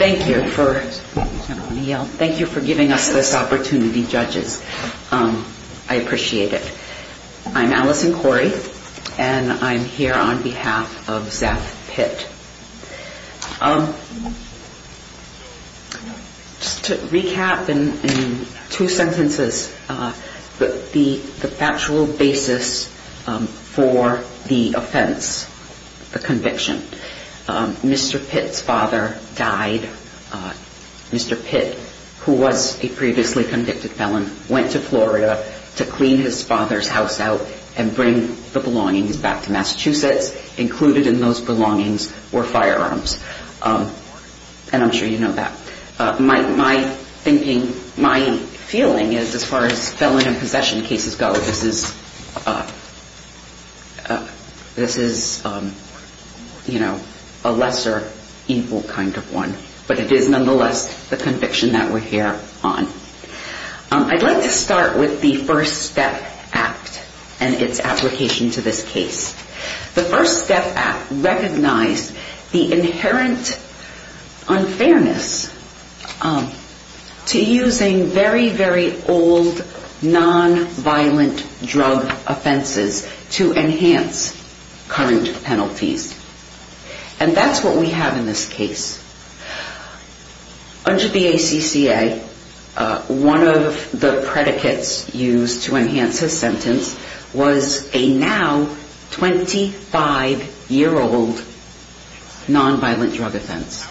Thank you for giving us this opportunity, judges. I appreciate it. I'm Allison Corey and I'm here on behalf of Zeph Pitt. To recap in two sentences, the factual basis for the offense, the conviction, Mr. Pitt's father died. Mr. Pitt, who was a previously convicted felon, went to Florida to clean his father's house out and bring the belongings back to Massachusetts. Included in those belongings were firearms. And I'm sure you know that. My feeling is, as far as felon and possession cases go, this is a lesser evil kind of one. But it is nonetheless the conviction that we're here on. I'd like to start with the First Step Act and its application to this case. The First Step Act recognized the inherent unfairness to using very, very old nonviolent drug offenses to enhance current penalties. And that's what we have in this case. Under the ACCA, one of the predicates used to enhance his sentence was a now 25-year-old nonviolent drug offense.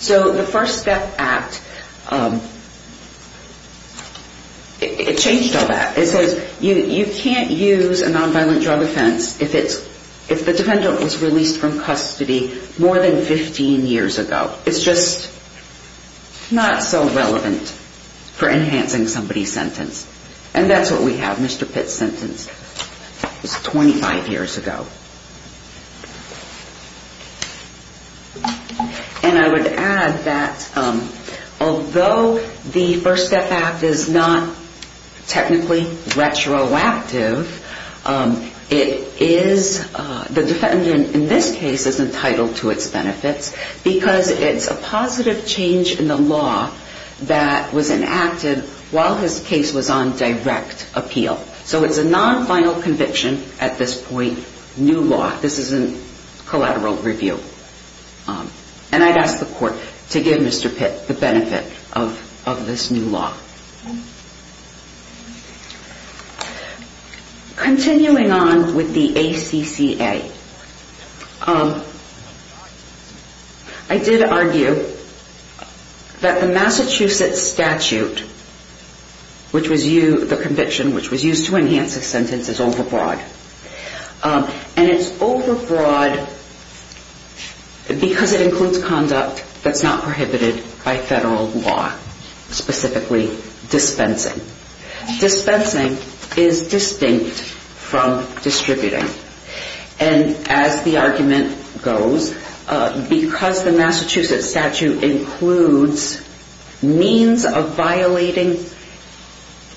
So the First Step Act, it changed all that. It says you can't use a more than 15 years ago. It's just not so relevant for enhancing somebody's sentence. And that's what we have. Mr. Pitt's sentence was 25 years ago. And I would add that although the First Step Act is not because it's a positive change in the law that was enacted while his case was on direct appeal. So it's a non-final conviction at this point, new law. This is a collateral review. And I'd ask the court to give Mr. Pitt a chance to speak to the ACCA. I did argue that the Massachusetts statute, which was used to enhance a sentence, is overbroad. And it's overbroad because it includes conduct that's not prohibited by federal law, specifically dispensing. Dispensing is distinct from distributing. And as the argument goes, because the Massachusetts statute includes means of violating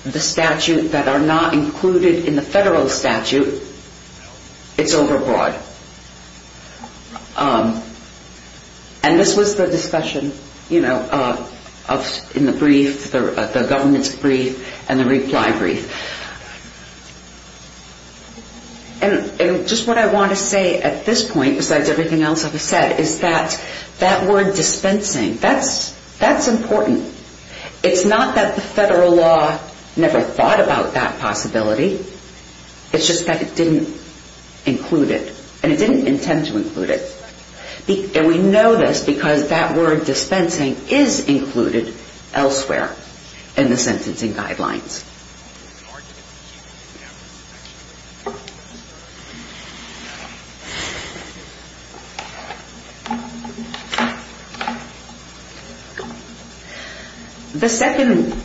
the statute that are not included in the federal statute, it's not in the brief, the government's brief, and the reply brief. And just what I want to say at this point, besides everything else I've said, is that that word dispensing, that's important. It's not that the federal law never thought about that possibility. It's just that it didn't include it. And it didn't intend to include it. And we know this because that word dispensing is included elsewhere in the sentencing guidelines.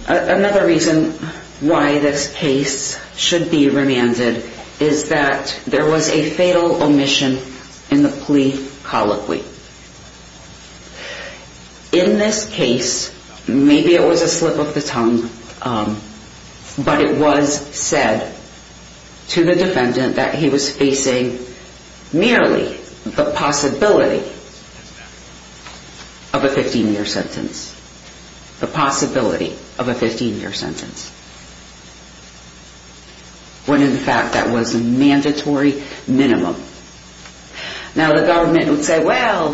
Another reason why this case should be remanded is that there was a fatal omission in the plea colloquy. And I want to say that. In this case, maybe it was a slip of the tongue, but it was said to the defendant that he was facing merely the possibility of a 15-year sentence. The possibility of a 15-year sentence. When, in fact, that was a mandatory minimum. Now, the government would say, well,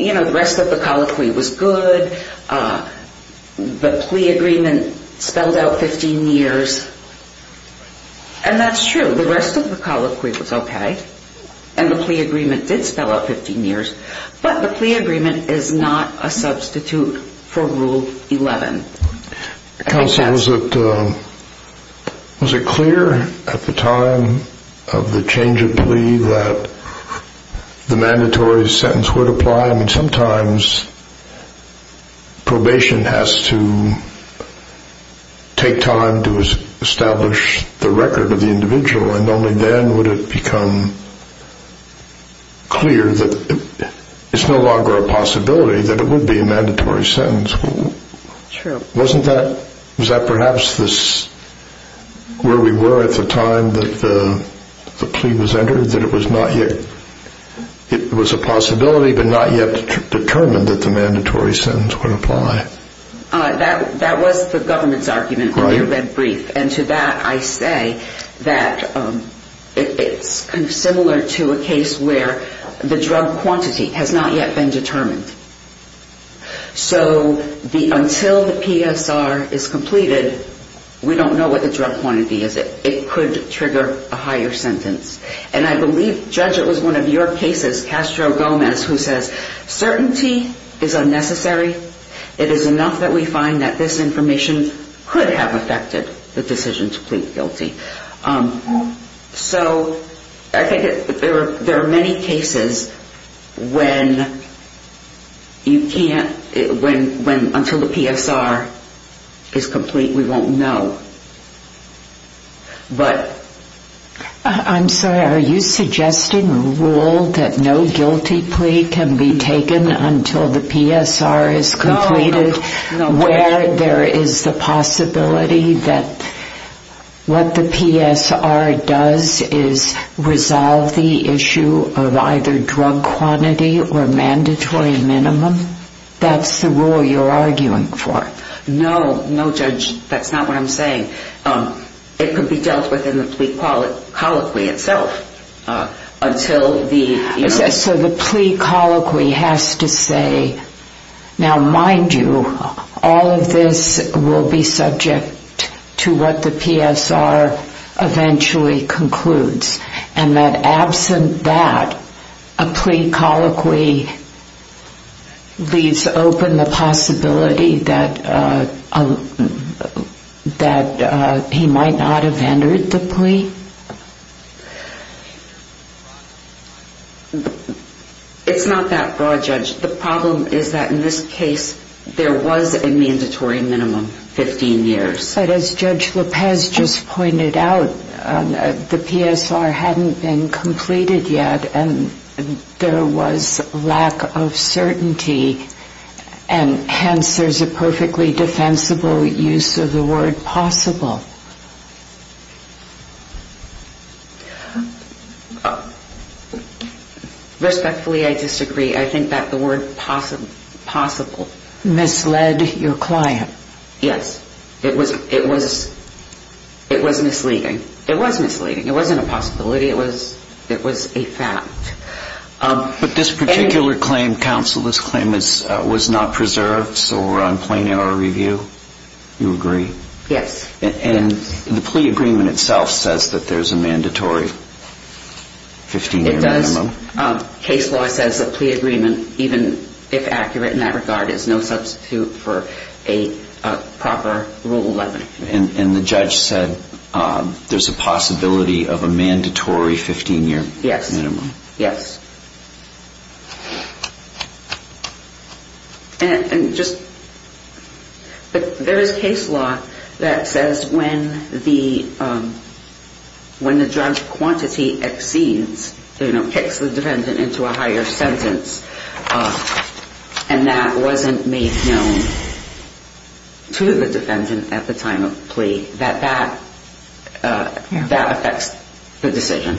you know, the rest of the colloquy was good. The plea agreement spelled out 15 years. And that's true. The rest of the colloquy was okay. And the plea agreement did spell out 15 years. But the plea agreement is not a rule that the mandatory sentence would apply. I mean, sometimes probation has to take time to establish the record of the individual. And only then would it become clear that it's no longer a possibility that it would be a mandatory sentence. True. Wasn't that, was that perhaps where we were at the time that the plea was entered? That it was not yet, it was a possibility but not yet determined that the mandatory sentence would apply? That was the government's argument on the red brief. And to that I say that it's similar to a case where the drug quantity has not yet been determined. So until the PSR is completed, we don't know what the drug quantity is. It could trigger a higher sentence. And I believe, Judge, it was one of your cases, Castro-Gomez, who says certainty is unnecessary. It is enough that we find that this information could have affected the decision to plead guilty. So I think there are many cases when you can't, until the PSR is complete, we won't know. I'm sorry, are you suggesting a rule that no guilty plea can be taken until the PSR is completed, where there is the possibility that what the PSR does is resolve the issue of either drug quantity or mandatory minimum? That's the rule you're arguing for? No, no, Judge, that's not what I'm saying. It could be dealt with in the plea colloquy itself. So the plea colloquy has to say, now mind you, all of this will be subject to what the PSR eventually concludes. And that absent that, a plea colloquy leaves open the possibility that he might not have entered the plea? It's not that broad, Judge. The problem is that in this case, there was a mandatory minimum, 15 years. But as Judge Lopez just pointed out, the PSR hadn't been completed yet, and there was lack of certainty, and hence there's a perfectly defensible use of the word possible. Respectfully, I disagree. I think that the word possible... Misled your client. Yes. It was misleading. It was misleading. It wasn't a possibility. It was a fact. But this particular claim, counsel, this claim was not preserved, so we're on plain error review. You agree? Yes. And the plea agreement itself says that there's a mandatory 15-year minimum. Case law says that plea agreement, even if accurate in that regard, is no substitute for a proper Rule 11. And the judge said there's a possibility of a mandatory 15-year minimum. Yes. Yes. And just, there is case law that says when the drug quantity exceeds, you know, kicks the defendant into a higher sentence, and that wasn't made known to the defendant at the time of plea, that that affects the decision.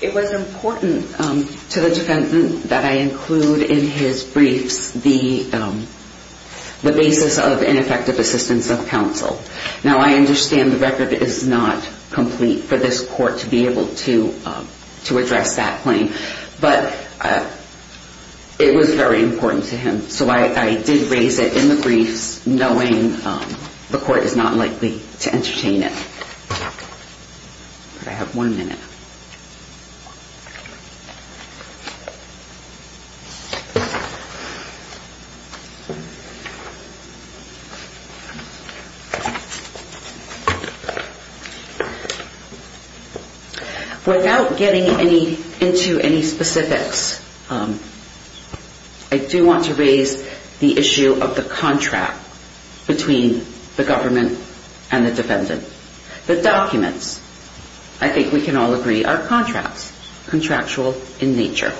It was important to the defendant that I include in his briefs the basis of ineffective assistance of counsel. Now, I understand the record is not complete for this court to be able to address that claim, but it was very important to him. So I did raise it in the briefs, knowing the court is not likely to entertain it. I have one minute. Without getting into any specifics, I do want to raise the issue of the contract between the government and the defendant. The documents, I think we can all agree, are contracts, contractual in nature.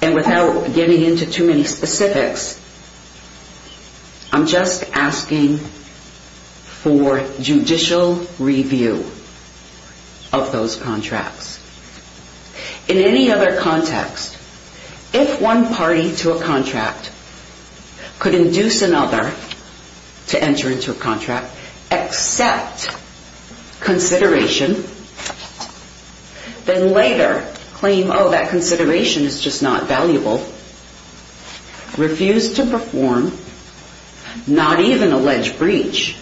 And without getting into too many specifics, I'm just asking for judicial review of those contracts. In any other context, if one party to a contract could induce another to enter into a contract, accept consideration, then later claim, oh, that consideration is just not valuable, refuse to perform, not even allege breach,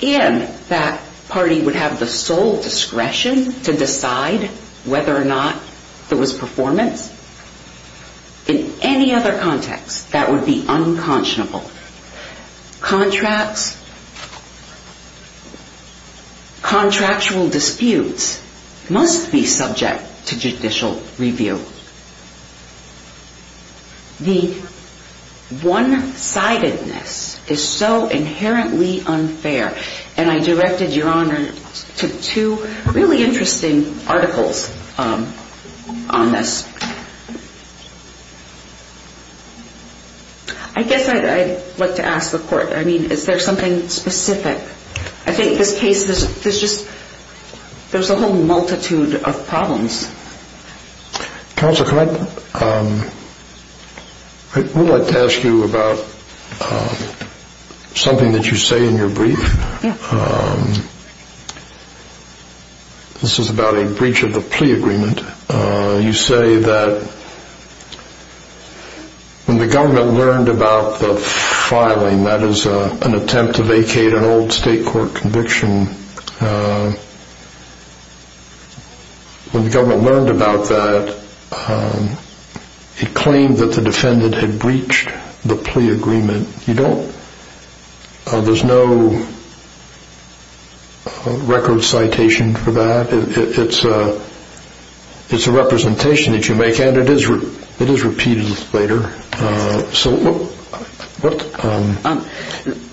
in that party would have the sole discretion to decide whether or not there was performance. In any other context, that would be unconscionable. Contractual disputes must be subject to judicial review. The one-sidedness is so inherently unfair, and I directed Your Honor to two really interesting articles on this. I guess I'd like to ask the court, I mean, is there something specific? I think this case, there's just, there's a whole multitude of problems. Counsel, can I, I would like to ask you about something that you say in your brief. This is about a breach of the plea agreement. You say that when the government learned about the filing, that is an attempt to vacate an old state court conviction, when the government learned about that, it claimed that the defendant had breached the plea agreement. You don't, there's no record citation for that. It's a representation that you make, and it is repeated later. So what,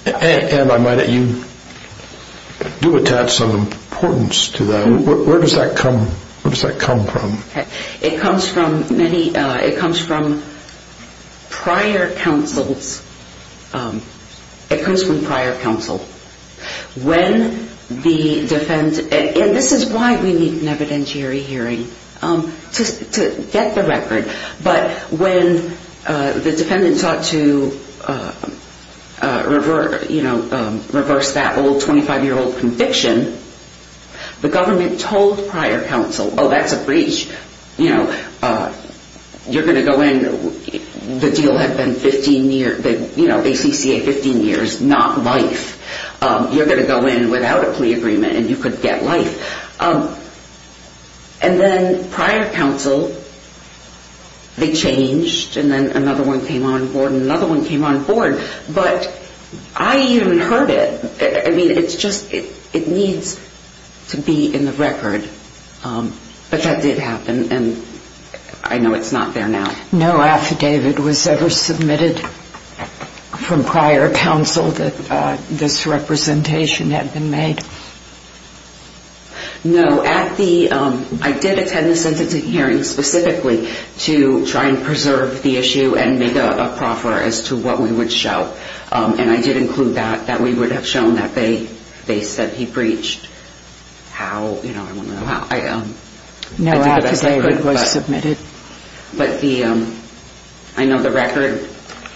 and I might, you do attach some importance to that. Where does that come, where does that come from? It comes from many, it comes from prior counsels, it comes from prior counsel. When the defendant, and this is why we need an evidentiary hearing, to get the record. But when the defendant sought to reverse that old 25-year-old conviction, the government told prior counsel, oh, that's a breach. You're going to go in, the deal had been 15 years, the ACCA 15 years, not life. You're going to go in without a plea agreement, and you could get life. And then prior counsel, they changed, and then another one came on board, and another one came on board. But I even heard it. I mean, it's just, it needs to be in the record. But that did happen, and I know it's not there now. No affidavit was ever submitted from prior counsel that this representation had been made? No, at the, I did attend the sentencing hearing specifically to try and preserve the issue and make a proffer as to what we would show. And I did include that, that we would have shown that they said he breached how, you know, I want to know how. No affidavit was submitted. But the, I know the record,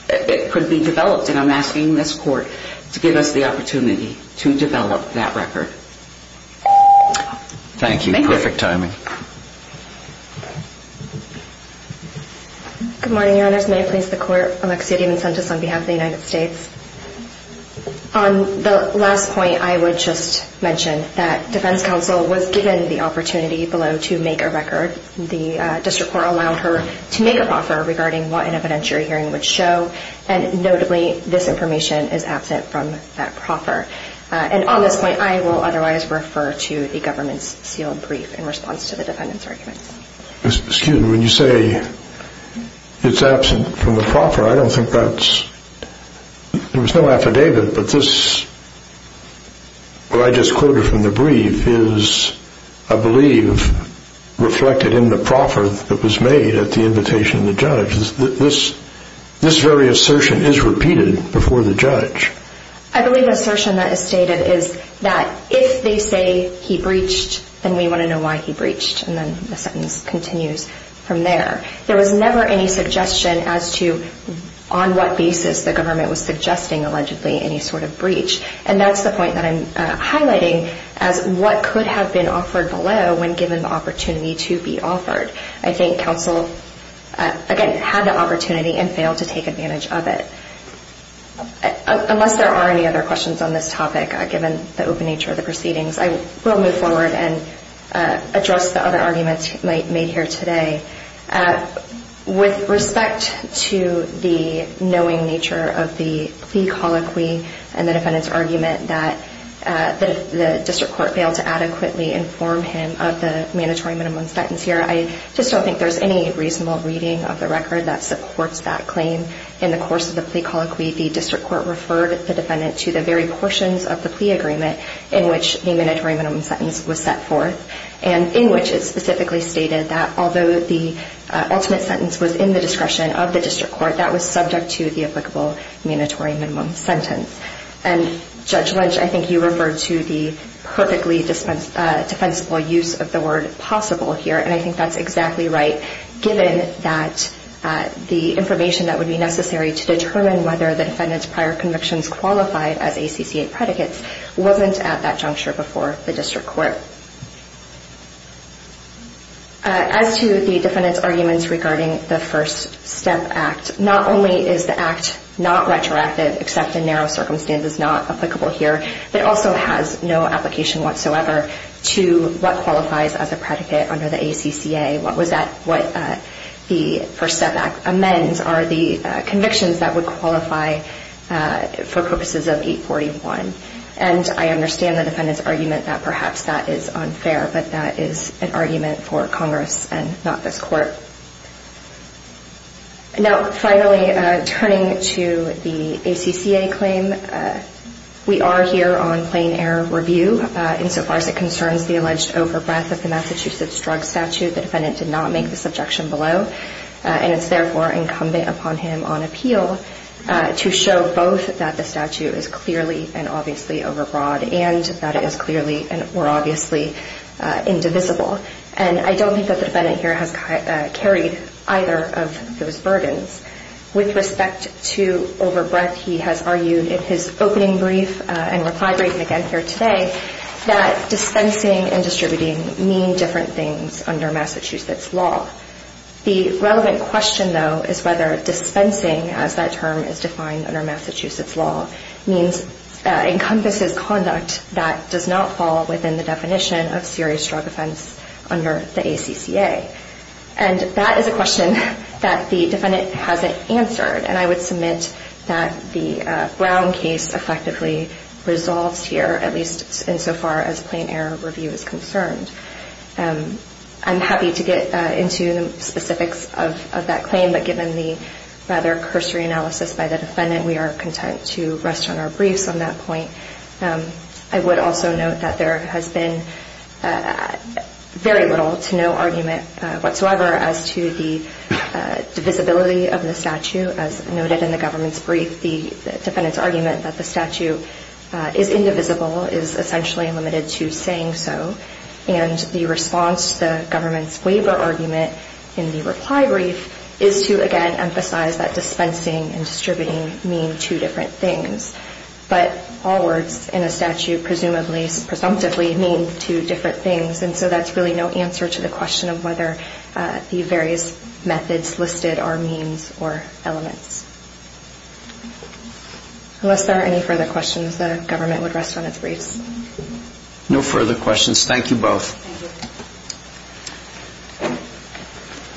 it could be developed, and I'm asking this court to give us the opportunity to develop that record. Thank you. Thank you. Perfect timing. Good morning, Your Honors. May it please the Court. Alexia DiMincentis on behalf of the United States. On the last point, I would just mention that defense counsel was given the opportunity below to make a record. The district court allowed her to make a proffer regarding what an evidentiary hearing would show, and notably this information is absent from that proffer. And on this point, I will otherwise refer to the government's sealed brief in response to the defendant's argument. Excuse me, when you say it's absent from the proffer, I don't think that's, there was no affidavit, but this, what I just quoted from the brief is, I believe, reflected in the proffer that was made at the invitation of the judge. This very assertion is repeated before the judge. I believe the assertion that is stated is that if they say he breached, then we want to know why he breached, and then the sentence continues from there. There was never any suggestion as to on what basis the government was suggesting, allegedly, any sort of breach, and that's the point that I'm highlighting as what could have been offered below when given the opportunity to be offered. I think counsel, again, had the opportunity and failed to take advantage of it. Unless there are any other questions on this topic, given the open nature of the proceedings, I will move forward and address the other arguments made here today. With respect to the knowing nature of the plea colloquy and the defendant's argument that the district court failed to adequately inform him of the mandatory minimum sentence here, I just don't think there's any reasonable reading of the record that supports that claim. In the course of the plea colloquy, the district court referred the defendant to the very portions of the plea agreement in which the mandatory minimum sentence was set forth, and in which it specifically stated that although the ultimate sentence was in the discretion of the district court, that was subject to the applicable mandatory minimum sentence. Judge Lynch, I think you referred to the perfectly defensible use of the word possible here, and I think that's exactly right, given that the information that would be necessary to determine whether the defendant's prior convictions qualified as ACCA predicates wasn't at that juncture before the district court. As to the defendant's arguments regarding the First Step Act, not only is the Act not retroactive, except in narrow circumstances not applicable here, it also has no application whatsoever to what qualifies as a predicate under the ACCA. What the First Step Act amends are the convictions that would qualify for purposes of 841. And I understand the defendant's argument that perhaps that is unfair, but that is an argument for Congress and not this court. Now, finally, turning to the ACCA claim, we are here on plain-air review. Insofar as it concerns the alleged over-breath of the Massachusetts Drug Statute, the defendant did not make this objection below, and it's therefore incumbent upon him on appeal to show both that the statute is clearly and obviously over-broad, and that it is clearly and more obviously indivisible. And I don't think that the defendant here has carried either of those burdens. With respect to over-breath, he has argued in his opening brief and reply briefing again here today that dispensing and distributing mean different things under Massachusetts law. The relevant question, though, is whether dispensing, as that term is defined under Massachusetts law, encompasses conduct that does not fall within the definition of serious drug offense under the ACCA. And that is a question that the defendant hasn't answered, and I would submit that the Brown case effectively resolves here, at least insofar as plain-air review is concerned. I'm happy to get into the specifics of that claim, but given the rather cursory analysis by the defendant, we are content to rest on our briefs on that point. I would also note that there has been very little to no argument whatsoever as to the divisibility of the statute. As noted in the government's brief, the defendant's argument that the statute is indivisible is essentially limited to saying so, and the response to the government's waiver argument in the reply brief is to, again, emphasize that dispensing and distributing mean two different things. But all words in a statute presumably, presumptively, mean two different things, and so that's really no answer to the question of whether the various methods listed are means or elements. Unless there are any further questions, the government would rest on its briefs. No further questions. Thank you both.